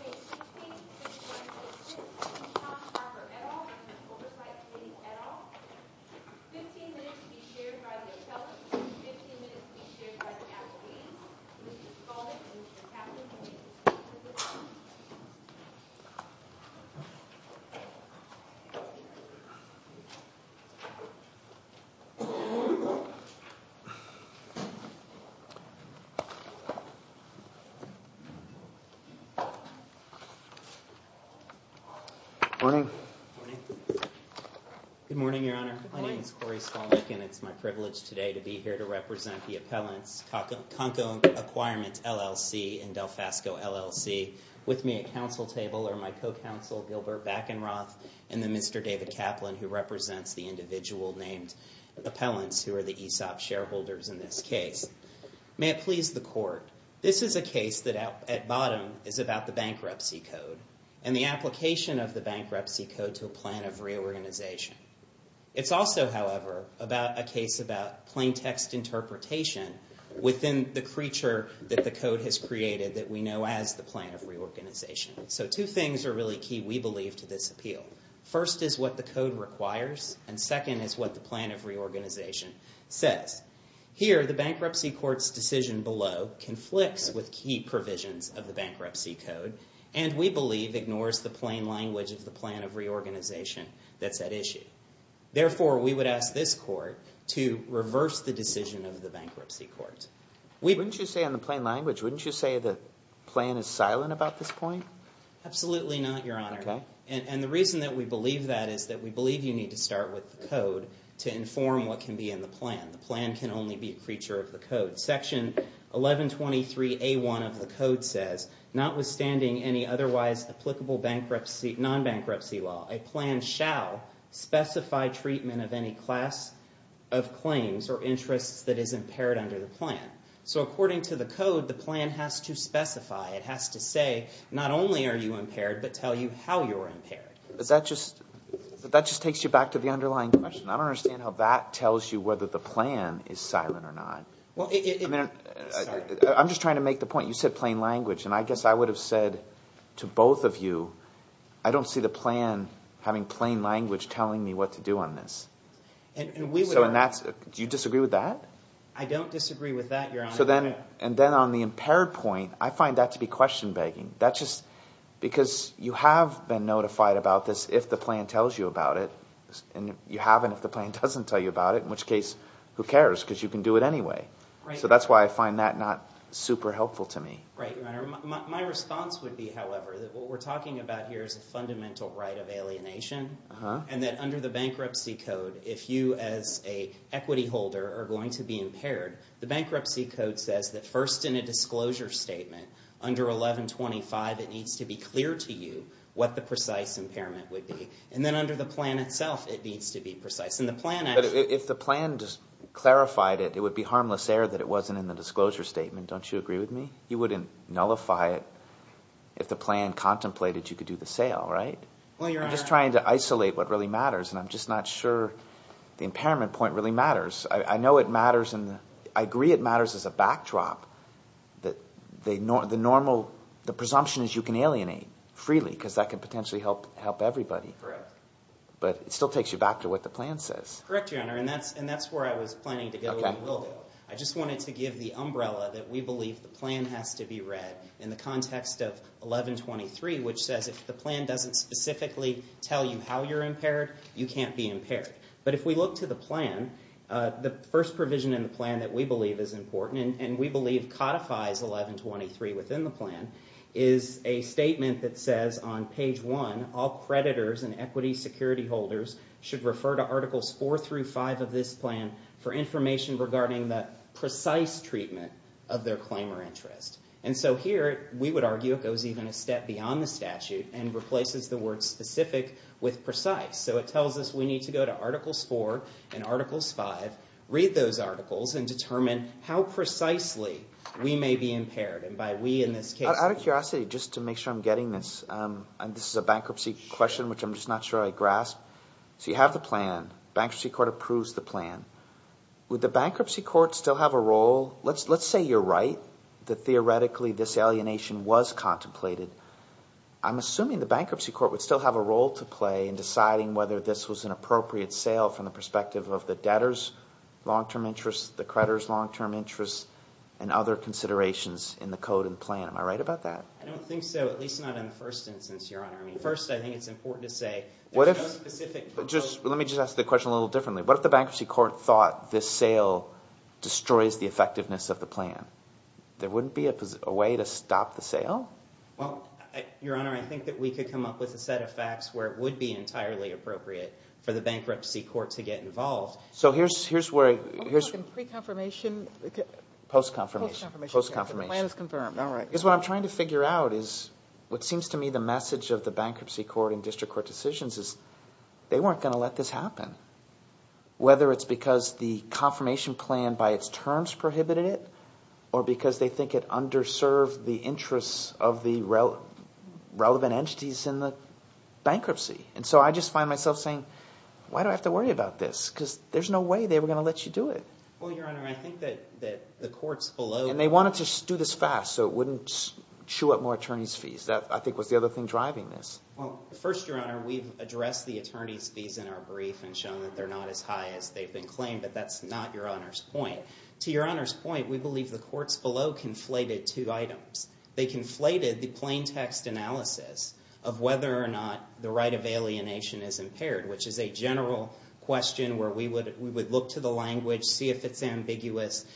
Page 16, Section 1, Page 6 Tom Harper et al. and the Oversight Committee et al. 15 minutes be shared by the Attellant, 15 minutes be shared by the Attollees. Mr. Spaulding and Mr. Caput, please. Good morning. Good morning, Your Honor. My name is Corey Spaulding, and it's my privilege today to be here to represent the appellants, Conco Acquirements, LLC, and Delfasco, LLC. With me at counsel table are my co-counsel, Gilbert Backenroth, and then Mr. David Kaplan, who represents the individual named appellants, who are the ESOP shareholders in this case. May it please the court, this is a case that at bottom is about the bankruptcy code and the application of the bankruptcy code to a plan of reorganization. It's also, however, about a case about plain text interpretation within the creature that the code has created that we know as the plan of reorganization. So two things are really key, we believe, to this appeal. First is what the code requires, and second is what the plan of reorganization says. Here, the bankruptcy court's decision below conflicts with key provisions of the bankruptcy code, and we believe ignores the plain language of the plan of reorganization that's at issue. Therefore, we would ask this court to reverse the decision of the bankruptcy court. Wouldn't you say in the plain language, wouldn't you say the plan is silent about this point? Absolutely not, Your Honor. Okay. Section 1123A1 of the code says, notwithstanding any otherwise applicable non-bankruptcy law, a plan shall specify treatment of any class of claims or interests that is impaired under the plan. So according to the code, the plan has to specify, it has to say, not only are you impaired, but tell you how you're impaired. But that just takes you back to the underlying question. I don't understand how that tells you whether the plan is silent or not. I'm just trying to make the point. You said plain language, and I guess I would have said to both of you, I don't see the plan having plain language telling me what to do on this. Do you disagree with that? I don't disagree with that, Your Honor. And then on the impaired point, I find that to be question-begging. Because you have been notified about this if the plan tells you about it, and you haven't if the plan doesn't tell you about it, in which case, who cares because you can do it anyway. So that's why I find that not super helpful to me. Right, Your Honor. My response would be, however, that what we're talking about here is a fundamental right of alienation. And that under the Bankruptcy Code, if you as an equity holder are going to be impaired, the Bankruptcy Code says that first in a disclosure statement, under 1125, it needs to be clear to you what the precise impairment would be. And then under the plan itself, it needs to be precise. But if the plan just clarified it, it would be harmless error that it wasn't in the disclosure statement. Don't you agree with me? You wouldn't nullify it if the plan contemplated you could do the sale, right? I'm just trying to isolate what really matters, and I'm just not sure the impairment point really matters. I know it matters, and I agree it matters as a backdrop. The presumption is you can alienate freely because that can potentially help everybody. But it still takes you back to what the plan says. Correct, Your Honor, and that's where I was planning to go and will go. I just wanted to give the umbrella that we believe the plan has to be read in the context of 1123, which says if the plan doesn't specifically tell you how you're impaired, you can't be impaired. But if we look to the plan, the first provision in the plan that we believe is important, and we believe codifies 1123 within the plan, is a statement that says on page 1, all creditors and equity security holders should refer to Articles 4 through 5 of this plan for information regarding the precise treatment of their claim or interest. And so here, we would argue it goes even a step beyond the statute and replaces the word specific with precise. So it tells us we need to go to Articles 4 and Articles 5, read those articles, and determine how precisely we may be impaired. And by we in this case— Out of curiosity, just to make sure I'm getting this, this is a bankruptcy question, which I'm just not sure I grasp. So you have the plan. Bankruptcy court approves the plan. Would the bankruptcy court still have a role? Let's say you're right, that theoretically this alienation was contemplated. I'm assuming the bankruptcy court would still have a role to play in deciding whether this was an appropriate sale from the perspective of the debtor's long-term interest, the creditor's long-term interest, and other considerations in the code and plan. Am I right about that? I don't think so, at least not in the first instance, Your Honor. First, I think it's important to say there's no specific— Let me just ask the question a little differently. What if the bankruptcy court thought this sale destroys the effectiveness of the plan? There wouldn't be a way to stop the sale? Well, Your Honor, I think that we could come up with a set of facts where it would be entirely appropriate for the bankruptcy court to get involved. So here's where— Are you talking pre-confirmation? Post-confirmation. Post-confirmation. The plan is confirmed. All right. Because what I'm trying to figure out is what seems to me the message of the bankruptcy court and district court decisions is they weren't going to let this happen, whether it's because the confirmation plan by its terms prohibited it or because they think it underserved the interests of the relevant entities in the bankruptcy. And so I just find myself saying, why do I have to worry about this? Because there's no way they were going to let you do it. Well, Your Honor, I think that the courts below— And they wanted to do this fast so it wouldn't chew up more attorneys' fees. That, I think, was the other thing driving this. Well, first, Your Honor, we've addressed the attorneys' fees in our brief and shown that they're not as high as they've been claimed, but that's not Your Honor's point. To Your Honor's point, we believe the courts below conflated two items. They conflated the plain text analysis of whether or not the right of alienation is impaired, which is a general question where we would look to the language, see if it's ambiguous.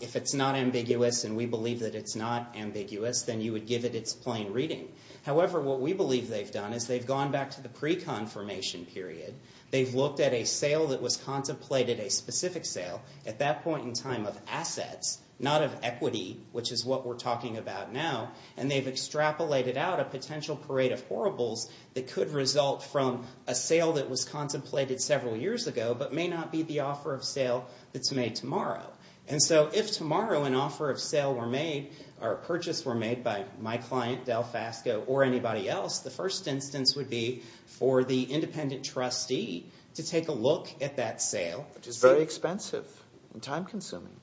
If it's not ambiguous and we believe that it's not ambiguous, then you would give it its plain reading. However, what we believe they've done is they've gone back to the pre-confirmation period. They've looked at a sale that was contemplated, a specific sale, at that point in time of assets, not of equity, which is what we're talking about now. And they've extrapolated out a potential parade of horribles that could result from a sale that was contemplated several years ago but may not be the offer of sale that's made tomorrow. And so if tomorrow an offer of sale were made or a purchase were made by my client, Delfasco, or anybody else, the first instance would be for the independent trustee to take a look at that sale. Which is very expensive and time-consuming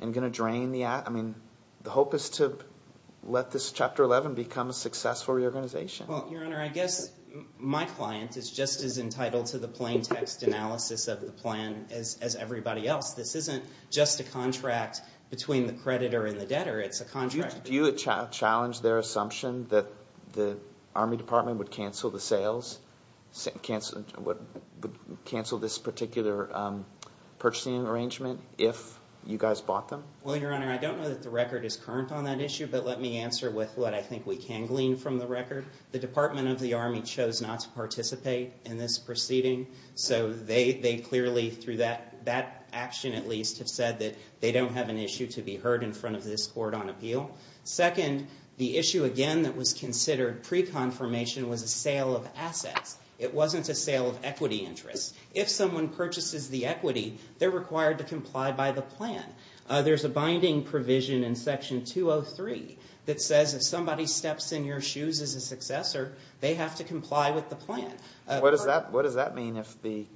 and going to drain the – I mean, the hope is to let this Chapter 11 become a successful reorganization. Well, Your Honor, I guess my client is just as entitled to the plain text analysis of the plan as everybody else. This isn't just a contract between the creditor and the debtor. It's a contract. Do you challenge their assumption that the Army Department would cancel the sales – cancel this particular purchasing arrangement if you guys bought them? Well, Your Honor, I don't know that the record is current on that issue, but let me answer with what I think we can glean from the record. The Department of the Army chose not to participate in this proceeding. So they clearly, through that action at least, have said that they don't have an issue to be heard in front of this court on appeal. Second, the issue again that was considered pre-confirmation was a sale of assets. It wasn't a sale of equity interests. If someone purchases the equity, they're required to comply by the plan. There's a binding provision in Section 203 that says if somebody steps in your shoes as a successor, they have to comply with the plan. What does that mean if the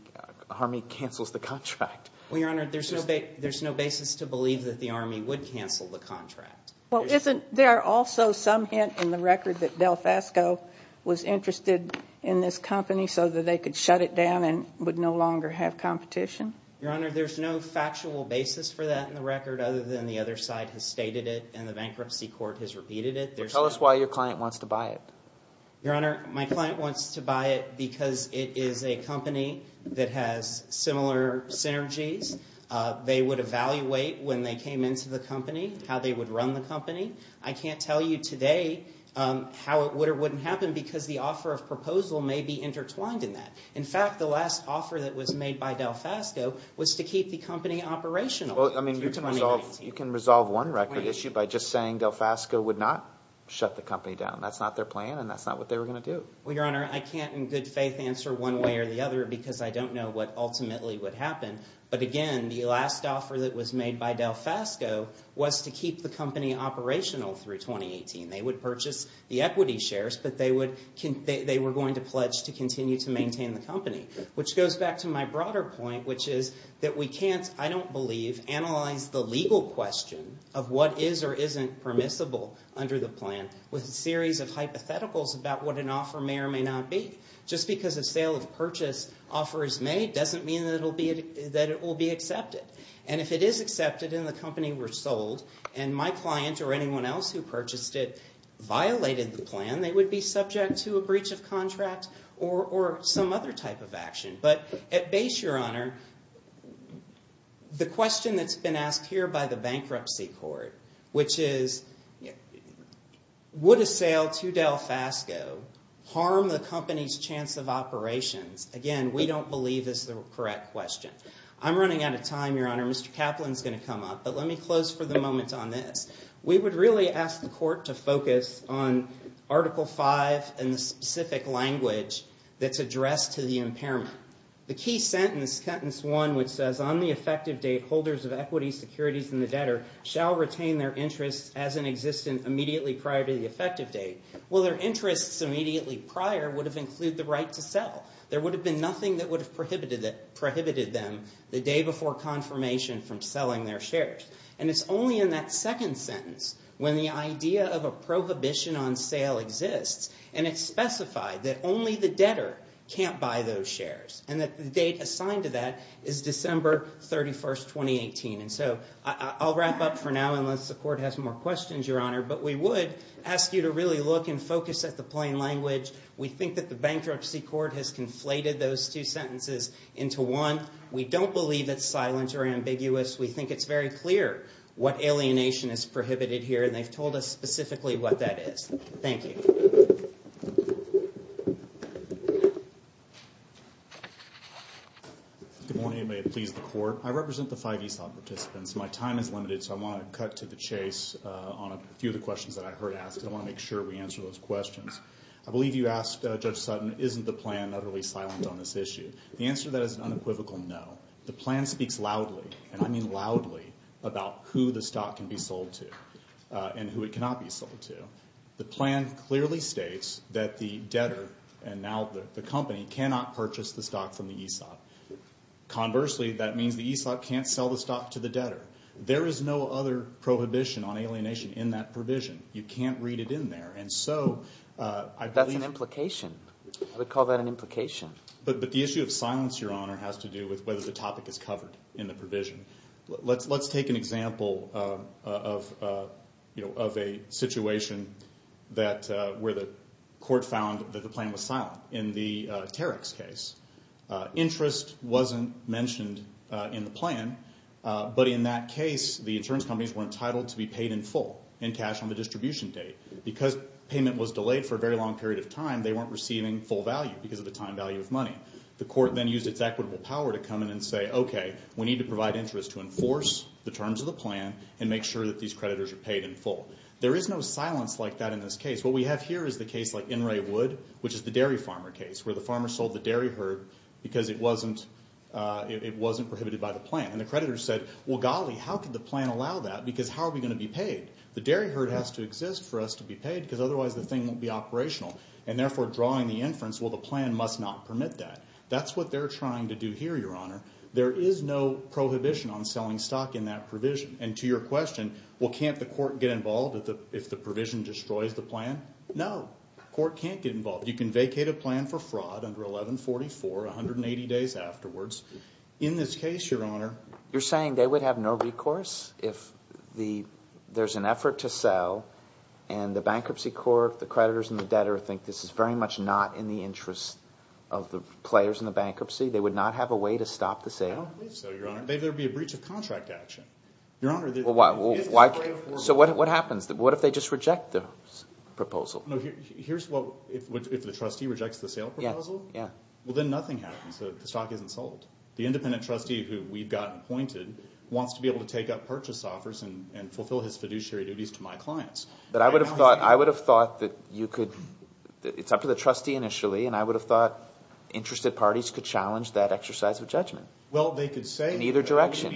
Army cancels the contract? Well, Your Honor, there's no basis to believe that the Army would cancel the contract. Well, isn't – there are also some hints in the record that DelFasco was interested in this company so that they could shut it down and would no longer have competition? Your Honor, there's no factual basis for that in the record other than the other side has stated it and the bankruptcy court has repeated it. Tell us why your client wants to buy it. Your Honor, my client wants to buy it because it is a company that has similar synergies. They would evaluate when they came into the company how they would run the company. I can't tell you today how it would or wouldn't happen because the offer of proposal may be intertwined in that. In fact, the last offer that was made by DelFasco was to keep the company operational. Well, I mean, you can resolve one record issue by just saying DelFasco would not shut the company down. That's not their plan and that's not what they were going to do. Well, Your Honor, I can't in good faith answer one way or the other because I don't know what ultimately would happen. But again, the last offer that was made by DelFasco was to keep the company operational through 2018. They would purchase the equity shares, but they were going to pledge to continue to maintain the company, which goes back to my broader point, which is that we can't, I don't believe, analyze the legal question of what is or isn't permissible under the plan with a series of hypotheticals about what an offer may or may not be. Just because a sale of purchase offer is made doesn't mean that it will be accepted. And if it is accepted and the company were sold and my client or anyone else who purchased it violated the plan, they would be subject to a breach of contract or some other type of action. But at base, Your Honor, the question that's been asked here by the bankruptcy court, which is would a sale to DelFasco harm the company's chance of operations? Again, we don't believe this is the correct question. I'm running out of time, Your Honor. Mr. Kaplan's going to come up. But let me close for the moment on this. We would really ask the court to focus on Article V and the specific language that's addressed to the impairment. The key sentence, Sentence 1, which says, On the effective date, holders of equities, securities, and the debtor shall retain their interests as an existent immediately prior to the effective date. Well, their interests immediately prior would have included the right to sell. There would have been nothing that would have prohibited them the day before confirmation from selling their shares. And it's only in that second sentence when the idea of a prohibition on sale exists, and it's specified that only the debtor can't buy those shares and that the date assigned to that is December 31st, 2018. And so I'll wrap up for now unless the court has more questions, Your Honor. But we would ask you to really look and focus at the plain language. We think that the bankruptcy court has conflated those two sentences into one. We don't believe it's silent or ambiguous. We think it's very clear what alienation is prohibited here, and they've told us specifically what that is. Thank you. Good morning, and may it please the court. I represent the five ESOP participants. My time is limited, so I want to cut to the chase on a few of the questions that I heard asked, and I want to make sure we answer those questions. I believe you asked, Judge Sutton, isn't the plan utterly silent on this issue? The answer to that is an unequivocal no. The plan speaks loudly, and I mean loudly, about who the stock can be sold to and who it cannot be sold to. The plan clearly states that the debtor and now the company cannot purchase the stock from the ESOP. Conversely, that means the ESOP can't sell the stock to the debtor. There is no other prohibition on alienation in that provision. You can't read it in there. That's an implication. I would call that an implication. But the issue of silence, Your Honor, has to do with whether the topic is covered in the provision. Let's take an example of a situation where the court found that the plan was silent. In the Tarek's case, interest wasn't mentioned in the plan, but in that case the insurance companies were entitled to be paid in full in cash on the distribution date because payment was delayed for a very long period of time. They weren't receiving full value because of the time value of money. The court then used its equitable power to come in and say, okay, we need to provide interest to enforce the terms of the plan and make sure that these creditors are paid in full. There is no silence like that in this case. What we have here is the case like In re Wood, which is the dairy farmer case, where the farmer sold the dairy herd because it wasn't prohibited by the plan. And the creditor said, well, golly, how could the plan allow that because how are we going to be paid? The dairy herd has to exist for us to be paid because otherwise the thing won't be operational. And therefore drawing the inference, well, the plan must not permit that. That's what they're trying to do here, Your Honor. There is no prohibition on selling stock in that provision. And to your question, well, can't the court get involved if the provision destroys the plan? No, court can't get involved. You can vacate a plan for fraud under 1144, 180 days afterwards. In this case, Your Honor. You're saying they would have no recourse if there's an effort to sell and the bankruptcy court, the creditors and the debtor, think this is very much not in the interest of the players in the bankruptcy? They would not have a way to stop the sale? I don't believe so, Your Honor. There would be a breach of contract action. Your Honor. So what happens? What if they just reject the proposal? Here's what, if the trustee rejects the sale proposal? Yeah. Well, then nothing happens. The stock isn't sold. The independent trustee who we've got appointed wants to be able to take up purchase offers and fulfill his fiduciary duties to my clients. But I would have thought that you could – it's up to the trustee initially, and I would have thought interested parties could challenge that exercise of judgment. Well, they could say – In either direction.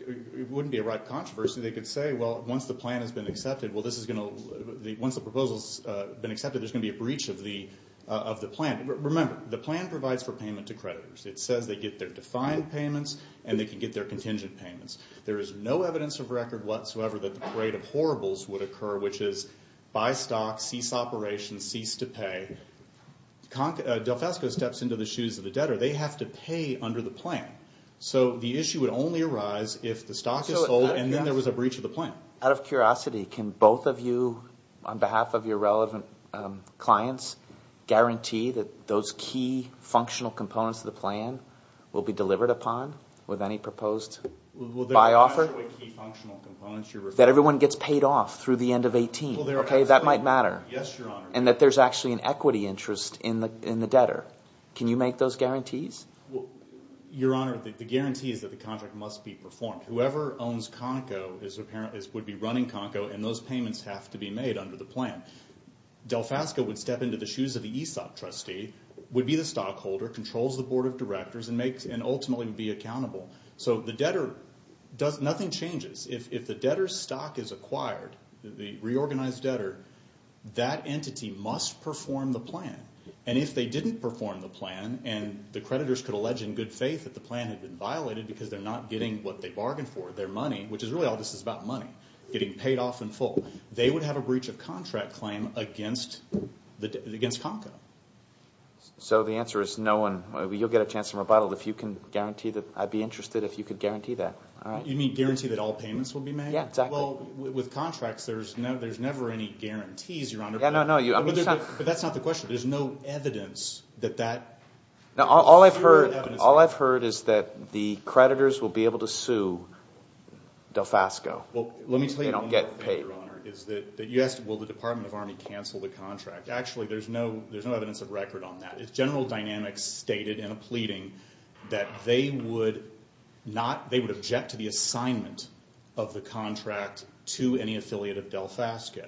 It wouldn't be a ripe controversy. They could say, well, once the plan has been accepted, well, this is going to – once the proposal has been accepted, there's going to be a breach of the plan. Remember, the plan provides for payment to creditors. It says they get their defined payments and they can get their contingent payments. There is no evidence of record whatsoever that the parade of horribles would occur, which is buy stock, cease operations, cease to pay. Delfesco steps into the shoes of the debtor. They have to pay under the plan. So the issue would only arise if the stock is sold and then there was a breach of the plan. Out of curiosity, can both of you, on behalf of your relevant clients, guarantee that those key functional components of the plan will be delivered upon with any proposed buy offer? Well, they're not actually key functional components you're referring to. That everyone gets paid off through the end of 18. Okay, that might matter. Yes, Your Honor. And that there's actually an equity interest in the debtor. Can you make those guarantees? Your Honor, the guarantee is that the contract must be performed. Whoever owns Conoco would be running Conoco, and those payments have to be made under the plan. Delfesco would step into the shoes of the ESOP trustee, would be the stockholder, controls the board of directors, and ultimately would be accountable. So the debtor, nothing changes. If the debtor's stock is acquired, the reorganized debtor, that entity must perform the plan. And if they didn't perform the plan and the creditors could allege in good faith that the plan had been violated because they're not getting what they bargained for, their money, which is really all this is about money, getting paid off in full, they would have a breach of contract claim against Conoco. So the answer is no one, you'll get a chance in rebuttal if you can guarantee that, I'd be interested if you could guarantee that. You mean guarantee that all payments will be made? Yeah, exactly. Well, with contracts there's never any guarantees, Your Honor. Yeah, no, no. But that's not the question. There's no evidence that that. Now, all I've heard is that the creditors will be able to sue Delfasco if they don't get paid. Well, let me tell you one more thing, Your Honor, is that you asked will the Department of Army cancel the contract. Actually, there's no evidence of record on that. General Dynamics stated in a pleading that they would not – they would object to the assignment of the contract to any affiliate of Delfasco.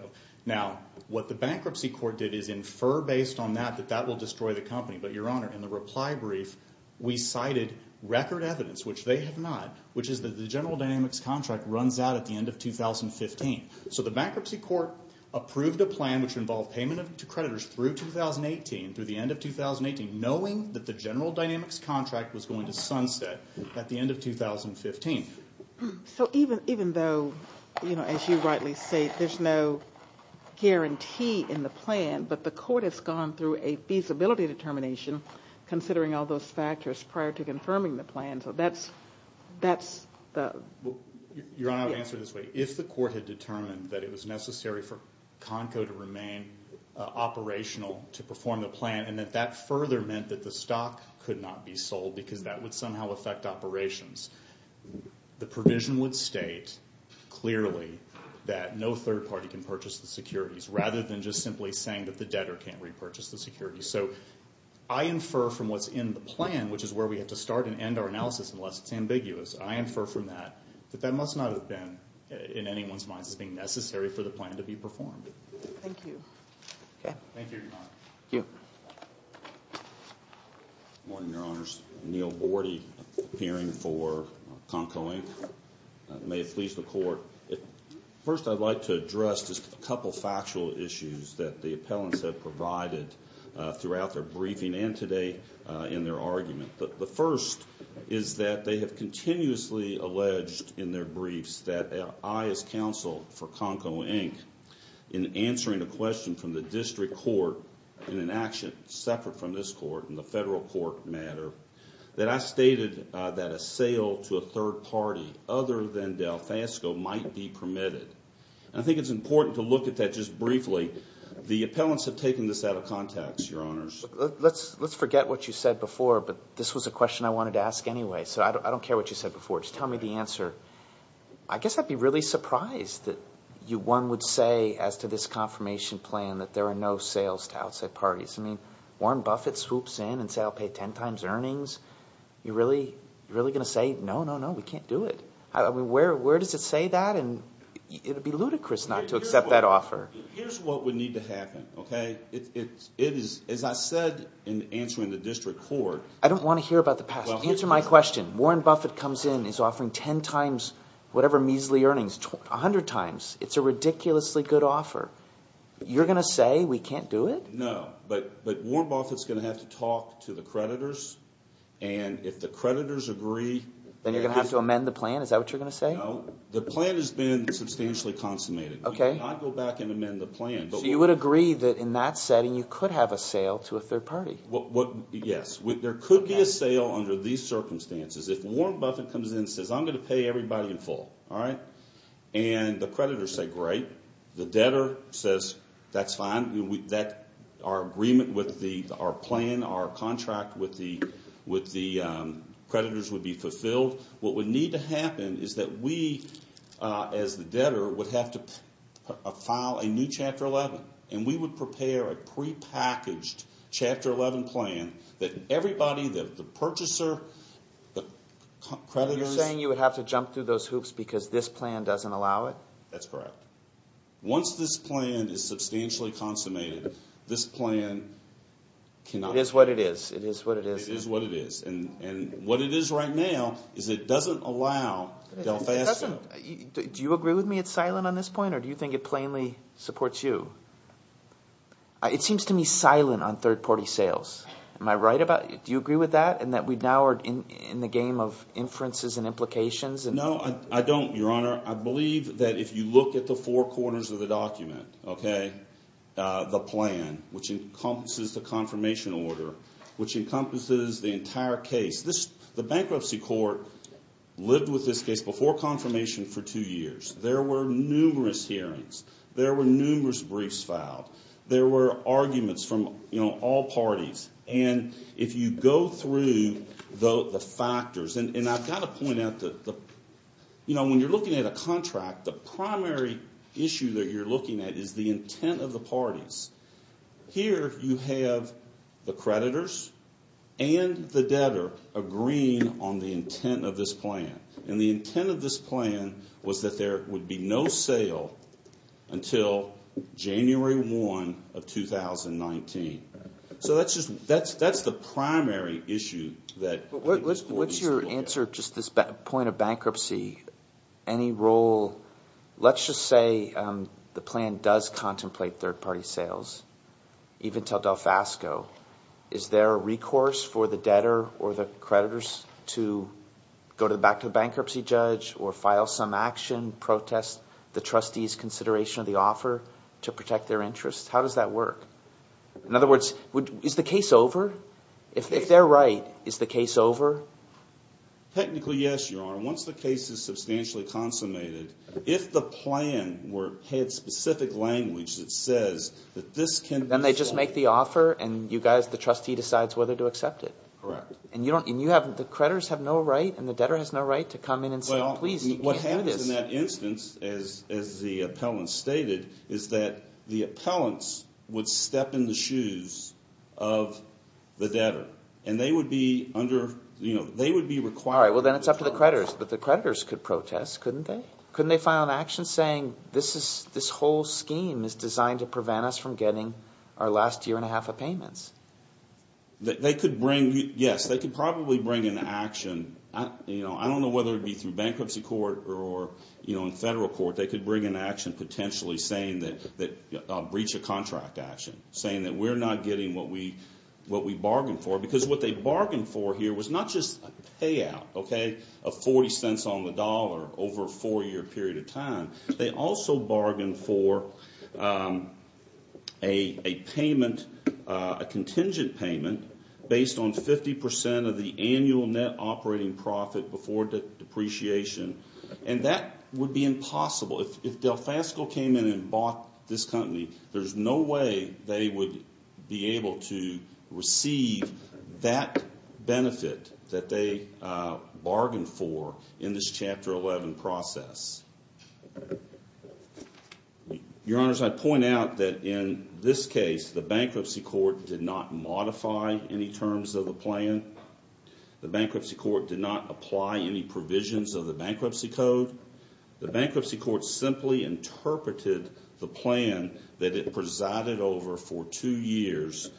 Now, what the bankruptcy court did is infer based on that that that will destroy the company. But, Your Honor, in the reply brief we cited record evidence, which they have not, which is that the General Dynamics contract runs out at the end of 2015. So the bankruptcy court approved a plan which involved payment to creditors through 2018, through the end of 2018, knowing that the General Dynamics contract was going to sunset at the end of 2015. So even though, you know, as you rightly say, there's no guarantee in the plan, but the court has gone through a feasibility determination considering all those factors prior to confirming the plan. So that's – that's the – Your Honor, I would answer it this way. If the court had determined that it was necessary for Conco to remain operational to perform the plan and that that further meant that the stock could not be sold because that would somehow affect operations, the provision would state clearly that no third party can purchase the securities rather than just simply saying that the debtor can't repurchase the securities. So I infer from what's in the plan, which is where we have to start and end our analysis unless it's ambiguous, I infer from that that that must not have been in anyone's minds as being necessary for the plan to be performed. Thank you. Okay. Thank you, Your Honor. Thank you. Good morning, Your Honors. Neil Bordy, appearing for Conco, Inc. May it please the Court, first I'd like to address just a couple factual issues that the appellants have provided throughout their briefing and today in their argument. The first is that they have continuously alleged in their briefs that I, as counsel for Conco, Inc., in answering a question from the district court in an action separate from this court in the federal court matter, that I stated that a sale to a third party other than Delfasco might be permitted. And I think it's important to look at that just briefly. The appellants have taken this out of context, Your Honors. Let's forget what you said before, but this was a question I wanted to ask anyway, so I don't care what you said before. Just tell me the answer. I guess I'd be really surprised that one would say as to this confirmation plan that there are no sales to outside parties. I mean, Warren Buffett swoops in and says I'll pay ten times earnings. You're really going to say, no, no, no, we can't do it? Where does it say that? It would be ludicrous not to accept that offer. Here's what would need to happen, okay? It is, as I said in answering the district court. I don't want to hear about the past. Answer my question. Warren Buffett comes in and is offering ten times whatever measly earnings, a hundred times. It's a ridiculously good offer. You're going to say we can't do it? No, but Warren Buffett's going to have to talk to the creditors, and if the creditors agree… Then you're going to have to amend the plan? Is that what you're going to say? No, the plan has been substantially consummated. Okay. We cannot go back and amend the plan. So you would agree that in that setting you could have a sale to a third party? Yes. There could be a sale under these circumstances. If Warren Buffett comes in and says, I'm going to pay everybody in full, and the creditors say great, the debtor says that's fine, our agreement with our plan, our contract with the creditors would be fulfilled, what would need to happen is that we, as the debtor, would have to file a new Chapter 11, and we would prepare a prepackaged Chapter 11 plan that everybody, the purchaser, the creditors… You're saying you would have to jump through those hoops because this plan doesn't allow it? That's correct. Once this plan is substantially consummated, this plan cannot… It is what it is. It is what it is. It is what it is. And what it is right now is it doesn't allow Del Fasco. Do you agree with me it's silent on this point or do you think it plainly supports you? It seems to me silent on third party sales. Am I right about – do you agree with that and that we now are in the game of inferences and implications? No, I don't, Your Honor. I believe that if you look at the four corners of the document, the plan, which encompasses the confirmation order, which encompasses the entire case. The bankruptcy court lived with this case before confirmation for two years. There were numerous hearings. There were numerous briefs filed. There were arguments from all parties. And if you go through the factors – and I've got to point out that when you're looking at a contract, the primary issue that you're looking at is the intent of the parties. Here you have the creditors and the debtor agreeing on the intent of this plan. And the intent of this plan was that there would be no sale until January 1 of 2019. So that's just – that's the primary issue that – What's your answer to this point of bankruptcy? Any role – let's just say the plan does contemplate third-party sales even until Delfasco. Is there a recourse for the debtor or the creditors to go back to the bankruptcy judge or file some action, protest the trustees' consideration of the offer to protect their interests? How does that work? In other words, is the case over? If they're right, is the case over? Technically, yes, Your Honor. Once the case is substantially consummated, if the plan had specific language that says that this can – Then they just make the offer and you guys, the trustee, decides whether to accept it. Correct. And you have – the creditors have no right and the debtor has no right to come in and say, please, you can't do this. Well, what happens in that instance, as the appellant stated, is that the appellants would step in the shoes of the debtor. And they would be under – they would be required – All right, well, then it's up to the creditors. But the creditors could protest, couldn't they? Couldn't they file an action saying this whole scheme is designed to prevent us from getting our last year and a half of payments? They could bring – yes, they could probably bring an action. I don't know whether it would be through bankruptcy court or in federal court. They could bring an action potentially saying that breach of contract action, saying that we're not getting what we bargained for. A $0.40 on the dollar over a four-year period of time. They also bargain for a payment, a contingent payment, based on 50 percent of the annual net operating profit before depreciation. And that would be impossible. If DelFasco came in and bought this company, there's no way they would be able to receive that benefit that they bargained for in this Chapter 11 process. Your Honors, I point out that in this case, the bankruptcy court did not modify any terms of the plan. The bankruptcy court did not apply any provisions of the bankruptcy code. The bankruptcy court simply interpreted the plan that it presided over for two years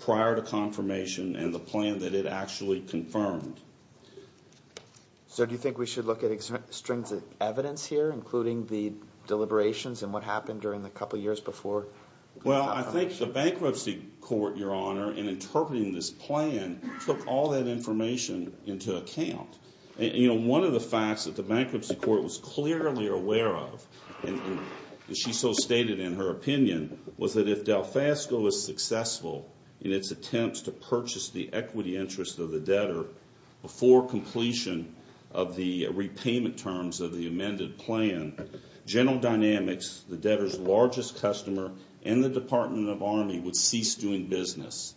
prior to confirmation and the plan that it actually confirmed. So do you think we should look at strings of evidence here, including the deliberations and what happened during the couple years before the confirmation? Well, I think the bankruptcy court, Your Honor, in interpreting this plan, took all that information into account. One of the facts that the bankruptcy court was clearly aware of, and she so stated in her opinion, was that if DelFasco was successful in its attempts to purchase the equity interest of the debtor before completion of the repayment terms of the amended plan, General Dynamics, the debtor's largest customer, and the Department of Army would cease doing business.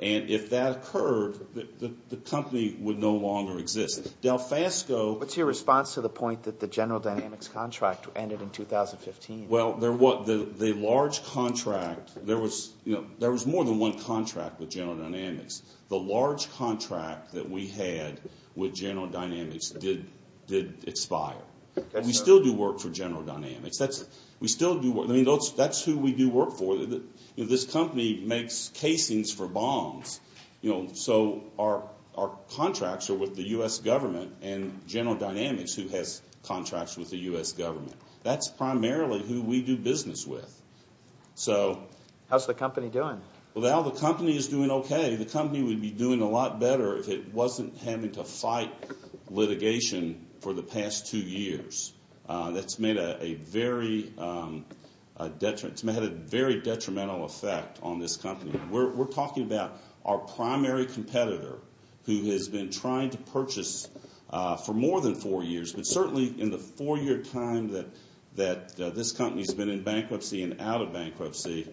And if that occurred, the company would no longer exist. What's your response to the point that the General Dynamics contract ended in 2015? Well, there was more than one contract with General Dynamics. The large contract that we had with General Dynamics did expire. We still do work for General Dynamics. That's who we do work for. This company makes casings for bombs, so our contracts are with the U.S. government and General Dynamics, who has contracts with the U.S. government. That's primarily who we do business with. How's the company doing? Well, the company is doing okay. The company would be doing a lot better if it wasn't having to fight litigation for the past two years. That's made a very detrimental effect on this company. We're talking about our primary competitor who has been trying to purchase for more than four years, but certainly in the four-year time that this company has been in bankruptcy and out of bankruptcy,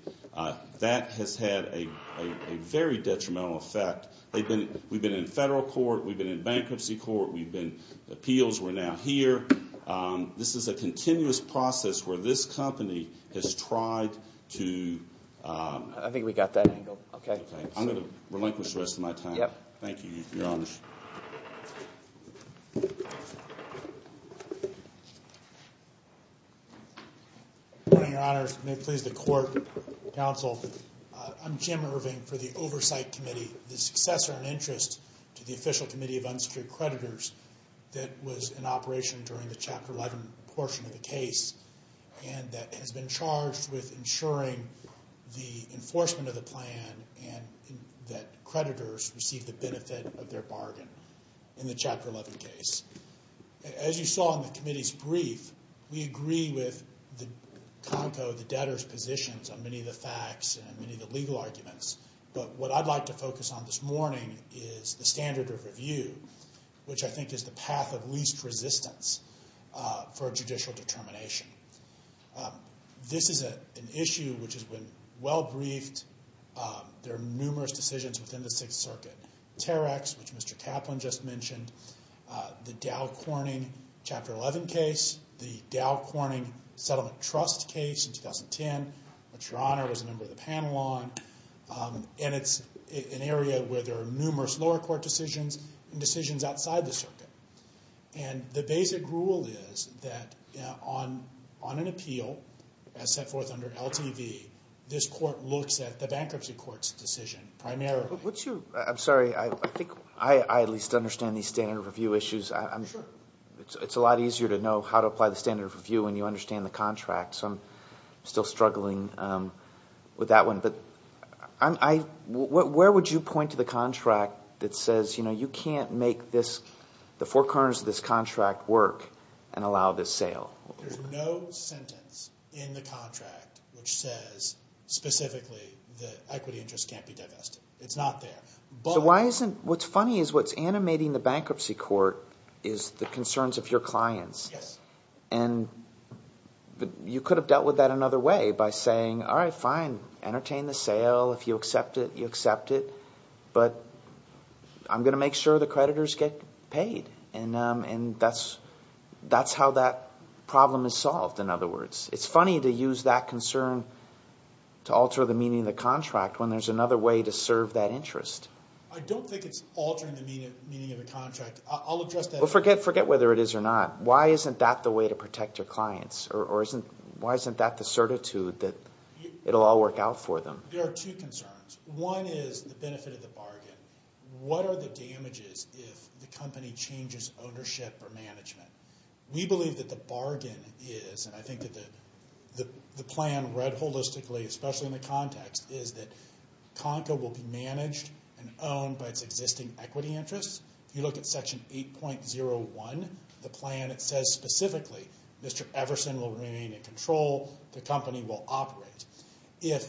that has had a very detrimental effect. We've been in federal court. We've been in bankruptcy court. We've been in appeals. We're now here. This is a continuous process where this company has tried to— I think we got that angle. Okay. I'm going to relinquish the rest of my time. Thank you. You're on. Good morning, Your Honors. May it please the Court, Counsel. I'm Jim Irving for the Oversight Committee, the successor in interest to the Official Committee of Unsecured Creditors that was in operation during the Chapter 11 portion of the case and that has been charged with ensuring the enforcement of the plan and that creditors receive the benefit of their bargain in the Chapter 11 case. As you saw in the committee's brief, we agree with the CONCO, the debtor's positions on many of the facts and many of the legal arguments. But what I'd like to focus on this morning is the standard of review, which I think is the path of least resistance for judicial determination. This is an issue which has been well briefed. There are numerous decisions within the Sixth Circuit. Terex, which Mr. Kaplan just mentioned, the Dow Corning Chapter 11 case, the Dow Corning Settlement Trust case in 2010, which Your Honor was a member of the panel on, and it's an area where there are numerous lower court decisions and decisions outside the circuit. And the basic rule is that on an appeal as set forth under LTV, this court looks at the bankruptcy court's decision primarily. I'm sorry. I think I at least understand these standard of review issues. It's a lot easier to know how to apply the standard of review when you understand the contracts. I'm still struggling with that one. But where would you point to the contract that says you can't make this – the four corners of this contract work and allow this sale? There's no sentence in the contract which says specifically that equity interest can't be divested. It's not there. So why isn't – what's funny is what's animating the bankruptcy court is the concerns of your clients. Yes. And you could have dealt with that another way by saying, all right, fine, entertain the sale. If you accept it, you accept it. But I'm going to make sure the creditors get paid. And that's how that problem is solved, in other words. It's funny to use that concern to alter the meaning of the contract when there's another way to serve that interest. I don't think it's altering the meaning of the contract. I'll address that. Well, forget whether it is or not. Why isn't that the way to protect your clients? Or why isn't that the certitude that it will all work out for them? There are two concerns. One is the benefit of the bargain. What are the damages if the company changes ownership or management? We believe that the bargain is, and I think that the plan read holistically, especially in the context, is that CONCA will be managed and owned by its existing equity interests. If you look at Section 8.01, the plan, it says specifically, Mr. Everson will remain in control. The company will operate. If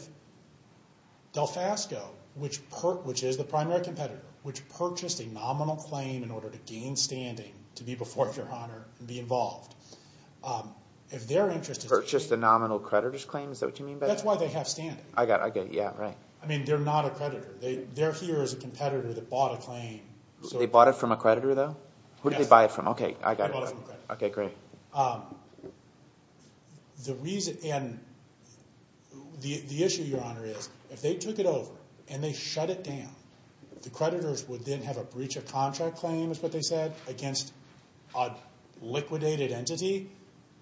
Delfasco, which is the primary competitor, which purchased a nominal claim in order to gain standing, to be before your honor and be involved, if their interest is paid. Purchased a nominal creditor's claim? Is that what you mean by that? That's why they have standing. I get it, yeah, right. I mean, they're not a creditor. They're here as a competitor that bought a claim. They bought it from a creditor, though? Yes. Who did they buy it from? Okay, I got it. They bought it from a creditor. Okay, great. The issue, your honor, is if they took it over and they shut it down, the creditors would then have a breach of contract claim, is what they said, against a liquidated entity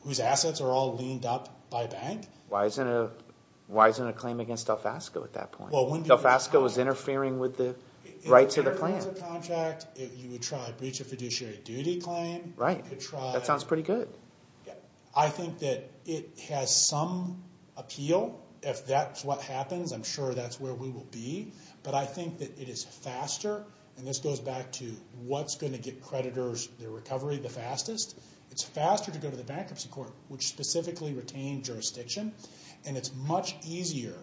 whose assets are all leaned up by a bank? Why isn't it a claim against Delfasco at that point? Delfasco was interfering with the rights of the claim. If it was a contract, you would try a breach of fiduciary duty claim. Right, that sounds pretty good. I think that it has some appeal. If that's what happens, I'm sure that's where we will be. But I think that it is faster, and this goes back to what's going to get creditors their recovery the fastest. It's faster to go to the bankruptcy court, which specifically retained jurisdiction, and it's much easier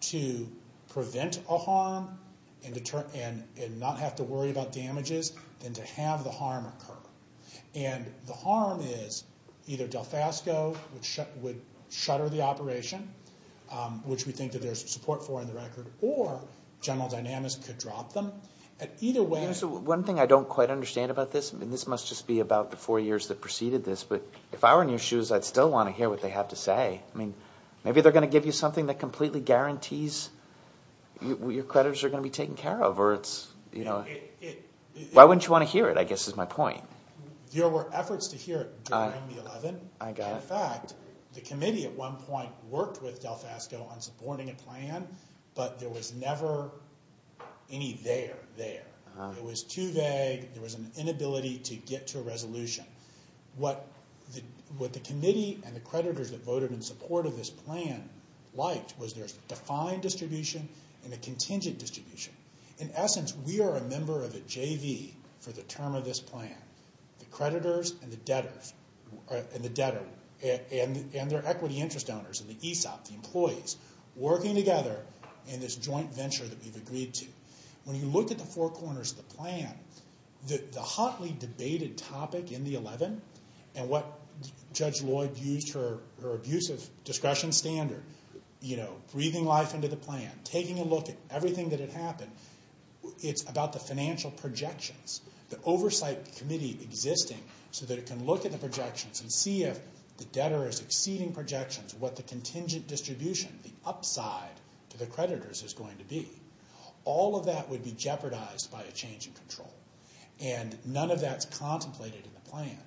to prevent a harm and not have to worry about damages than to have the harm occur. And the harm is either Delfasco would shutter the operation, which we think that there's support for in the record, or General Dynamics could drop them. One thing I don't quite understand about this, and this must just be about the four years that preceded this, but if I were in your shoes, I'd still want to hear what they have to say. I mean, maybe they're going to give you something that completely guarantees your creditors are going to be taken care of. Why wouldn't you want to hear it, I guess, is my point. There were efforts to hear it during the 11th. In fact, the committee at one point worked with Delfasco on supporting a plan, but there was never any there there. It was too vague. There was an inability to get to a resolution. What the committee and the creditors that voted in support of this plan liked was there's defined distribution and a contingent distribution. In essence, we are a member of the JV for the term of this plan, the creditors and the debtors, and their equity interest owners, and the ESOP, the employees, working together in this joint venture that we've agreed to. When you look at the four corners of the plan, the hotly debated topic in the 11th and what Judge Lloyd used her abusive discretion standard, breathing life into the plan, taking a look at everything that had happened, it's about the financial projections, the oversight committee existing so that it can look at the projections and see if the debtor is exceeding projections, what the contingent distribution, the upside to the creditors, is going to be. All of that would be jeopardized by a change in control, and none of that's contemplated in the plan.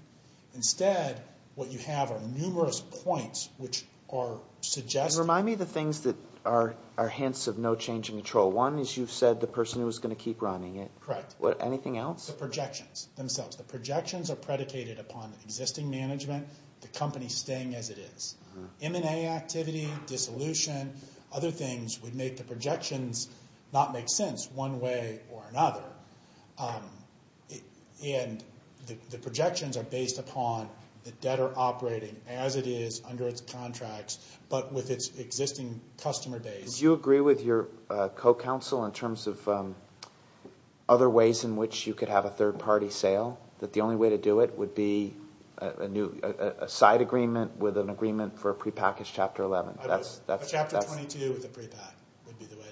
Instead, what you have are numerous points which are suggesting... You remind me of the things that are hints of no change in control. One is you've said the person who was going to keep running it. Correct. Anything else? The projections themselves. The projections are predicated upon existing management, the company staying as it is. M&A activity, dissolution, other things would make the projections not make sense one way or another. The projections are based upon the debtor operating as it is under its contracts but with its existing customer base. Do you agree with your co-counsel in terms of other ways in which you could have a third-party sale, that the only way to do it would be a side agreement with an agreement for a prepackaged Chapter 11? A Chapter 22 with a prepack would be the way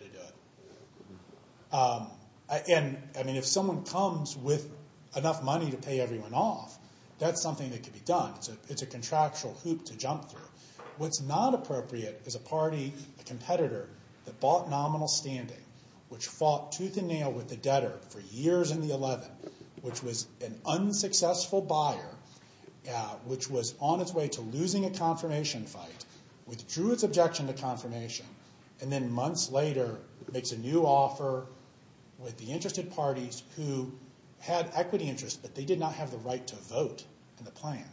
to do it. If someone comes with enough money to pay everyone off, that's something that could be done. It's a contractual hoop to jump through. What's not appropriate is a party, a competitor, that bought nominal standing, which fought tooth and nail with the debtor for years in the 11, which was an unsuccessful buyer, which was on its way to losing a confirmation fight, withdrew its objection to confirmation, and then months later makes a new offer with the interested parties who had equity interests but they did not have the right to vote in the plan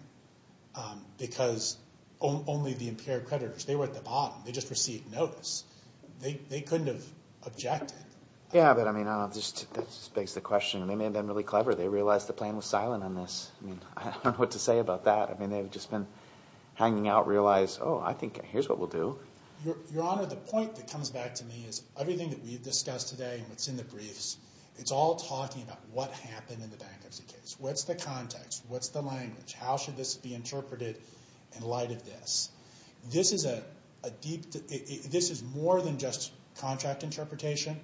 because only the impaired creditors. They were at the bottom. They just received notice. They couldn't have objected. That begs the question. They may have been really clever. They realized the plan was silent on this. I don't know what to say about that. They've just been hanging out, realized, oh, I think here's what we'll do. Your Honor, the point that comes back to me is everything that we've discussed today and what's in the briefs, it's all talking about what happened in the bankruptcy case. What's the context? What's the language? How should this be interpreted in light of this? This is more than just contract interpretation,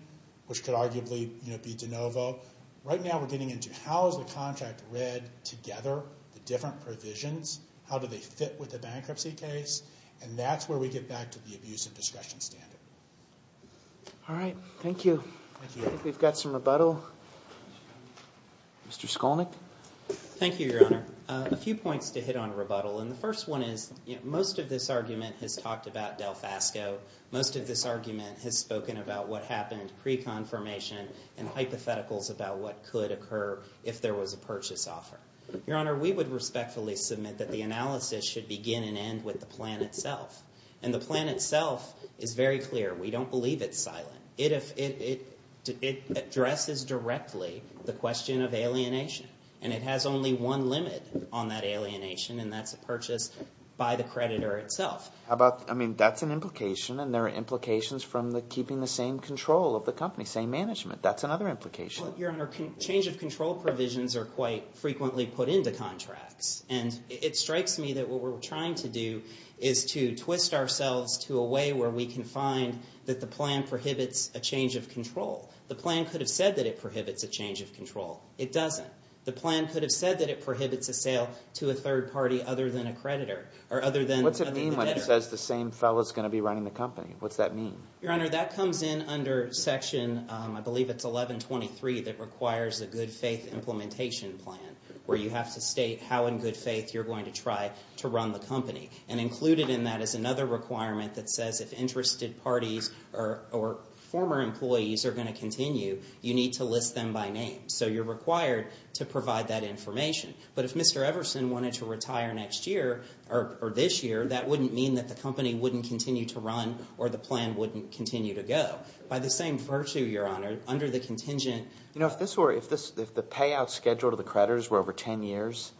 which could arguably be de novo. Right now we're getting into how is the contract read together, the different provisions, how do they fit with the bankruptcy case, and that's where we get back to the abuse of discretion standard. All right. Thank you. I think we've got some rebuttal. Mr. Skolnick. Thank you, Your Honor. A few points to hit on rebuttal. The first one is most of this argument has talked about Del Fasco. Most of this argument has spoken about what happened pre-confirmation and hypotheticals about what could occur if there was a purchase offer. Your Honor, we would respectfully submit that the analysis should begin and end with the plan itself. And the plan itself is very clear. We don't believe it's silent. It addresses directly the question of alienation, and it has only one limit on that alienation, and that's a purchase by the creditor itself. I mean, that's an implication, and there are implications from keeping the same control of the company, same management. That's another implication. Your Honor, change of control provisions are quite frequently put into contracts, and it strikes me that what we're trying to do is to twist ourselves to a way where we can find that the plan prohibits a change of control. The plan could have said that it prohibits a change of control. It doesn't. The plan could have said that it prohibits a sale to a third party other than a creditor or other than the debtor. What's it mean when it says the same fellow is going to be running the company? What's that mean? Your Honor, that comes in under Section, I believe it's 1123, that requires a good faith implementation plan, where you have to state how in good faith you're going to try to run the company. And included in that is another requirement that says if interested parties or former employees are going to continue, you need to list them by name. So you're required to provide that information. But if Mr. Everson wanted to retire next year or this year, that wouldn't mean that the company wouldn't continue to run or the plan wouldn't continue to go. By the same virtue, Your Honor, under the contingent. You know, if the payout schedule to the creditors were over ten years,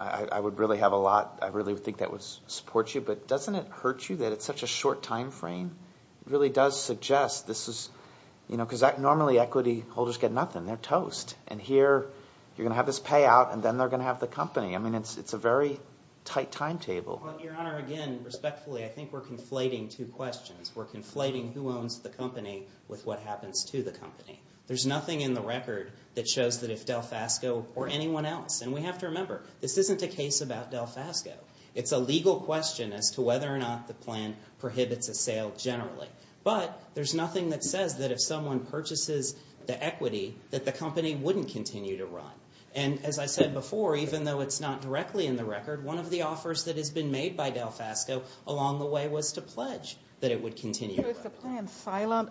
I would really have a lot, I really think that would support you. But doesn't it hurt you that it's such a short time frame? It really does suggest this is, you know, because normally equity holders get nothing. They're toast. And here you're going to have this payout, and then they're going to have the company. I mean, it's a very tight timetable. Your Honor, again, respectfully, I think we're conflating two questions. We're conflating who owns the company with what happens to the company. There's nothing in the record that shows that if DelFasco or anyone else, and we have to remember, this isn't a case about DelFasco. It's a legal question as to whether or not the plan prohibits a sale generally. But there's nothing that says that if someone purchases the equity, that the company wouldn't continue to run. One of the offers that has been made by DelFasco along the way was to pledge that it would continue to run. So is the plan silent,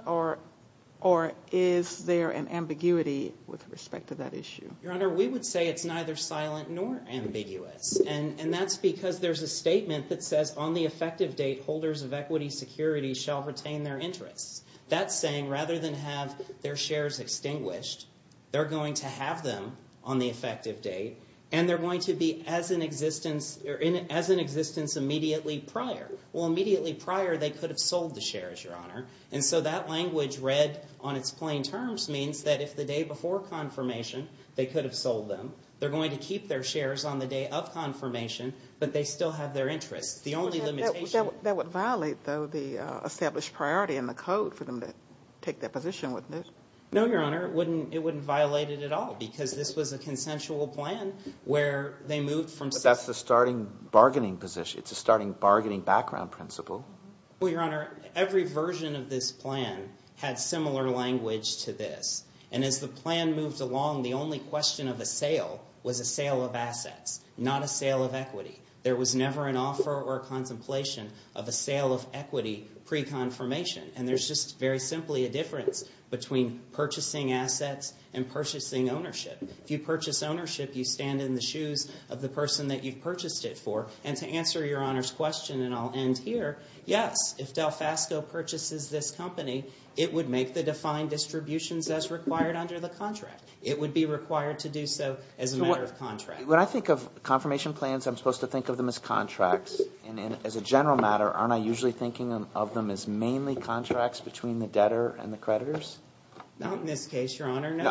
or is there an ambiguity with respect to that issue? Your Honor, we would say it's neither silent nor ambiguous. And that's because there's a statement that says, on the effective date, holders of equity security shall retain their interests. That's saying rather than have their shares extinguished, they're going to have them on the effective date, and they're going to be as an existence immediately prior. Well, immediately prior, they could have sold the shares, Your Honor. And so that language read on its plain terms means that if the day before confirmation they could have sold them, they're going to keep their shares on the day of confirmation, but they still have their interests. That would violate, though, the established priority in the code for them to take that position, wouldn't it? No, Your Honor, it wouldn't violate it at all because this was a consensual plan where they moved from system to system. But that's the starting bargaining position. It's a starting bargaining background principle. Well, Your Honor, every version of this plan had similar language to this. And as the plan moved along, the only question of a sale was a sale of assets, not a sale of equity. There was never an offer or a contemplation of a sale of equity pre-confirmation. And there's just very simply a difference between purchasing assets and purchasing ownership. If you purchase ownership, you stand in the shoes of the person that you've purchased it for. And to answer Your Honor's question, and I'll end here, yes, if Delfasco purchases this company, it would make the defined distributions as required under the contract. It would be required to do so as a matter of contract. When I think of confirmation plans, I'm supposed to think of them as contracts. And as a general matter, aren't I usually thinking of them as mainly contracts between the debtor and the creditors? Not in this case, Your Honor, no.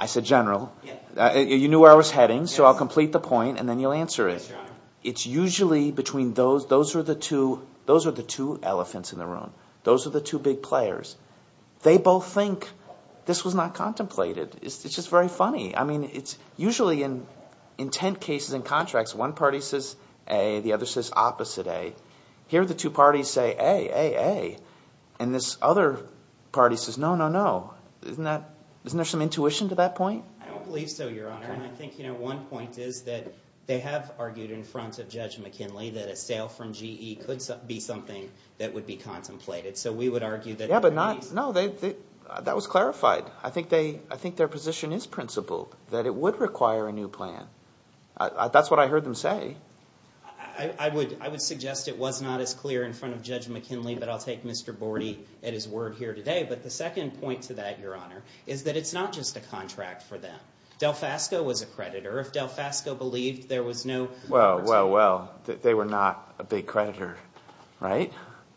I said general. You knew where I was heading, so I'll complete the point, and then you'll answer it. It's usually between those. Those are the two elephants in the room. Those are the two big players. They both think this was not contemplated. It's just very funny. I mean, it's usually in ten cases and contracts, one party says A. The other says opposite A. Here the two parties say A, A, A. And this other party says no, no, no. Isn't there some intuition to that point? I don't believe so, Your Honor. And I think one point is that they have argued in front of Judge McKinley that a sale from GE could be something that would be contemplated. So we would argue that there may be some – No, that was clarified. I think their position is principled, that it would require a new plan. That's what I heard them say. I would suggest it was not as clear in front of Judge McKinley, but I'll take Mr. Bordy at his word here today. But the second point to that, Your Honor, is that it's not just a contract for them. Delfasco was a creditor. If Delfasco believed there was no – Well, well, well, they were not a big creditor, right?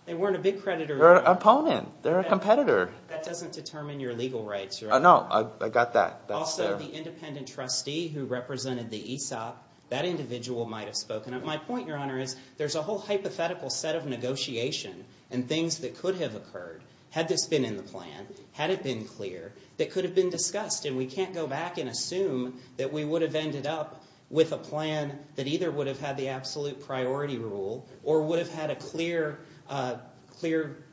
They weren't a big creditor. They're an opponent. They're a competitor. That doesn't determine your legal rights, Your Honor. No, I got that. Also, the independent trustee who represented the ESOP, that individual might have spoken up. My point, Your Honor, is there's a whole hypothetical set of negotiation and things that could have occurred, had this been in the plan, had it been clear, that could have been discussed, and we can't go back and assume that we would have ended up with a plan that either would have had the absolute priority rule or would have had a clear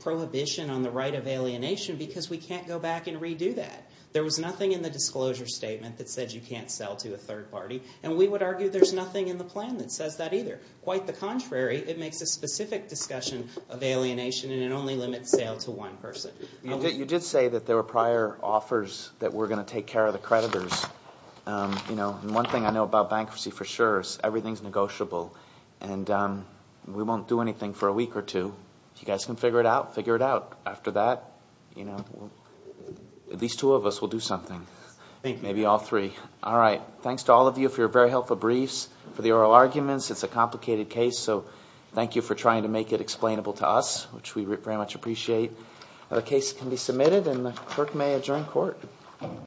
prohibition on the right of alienation because we can't go back and redo that. There was nothing in the disclosure statement that said you can't sell to a third party, and we would argue there's nothing in the plan that says that either. Quite the contrary. It makes a specific discussion of alienation, and it only limits sale to one person. You did say that there were prior offers that were going to take care of the creditors. One thing I know about bankruptcy for sure is everything's negotiable, and we won't do anything for a week or two. If you guys can figure it out, figure it out. After that, at least two of us will do something, maybe all three. All right. Thanks to all of you for your very helpful briefs, for the oral arguments. It's a complicated case, so thank you for trying to make it explainable to us, which we very much appreciate. The case can be submitted, and the clerk may adjourn court.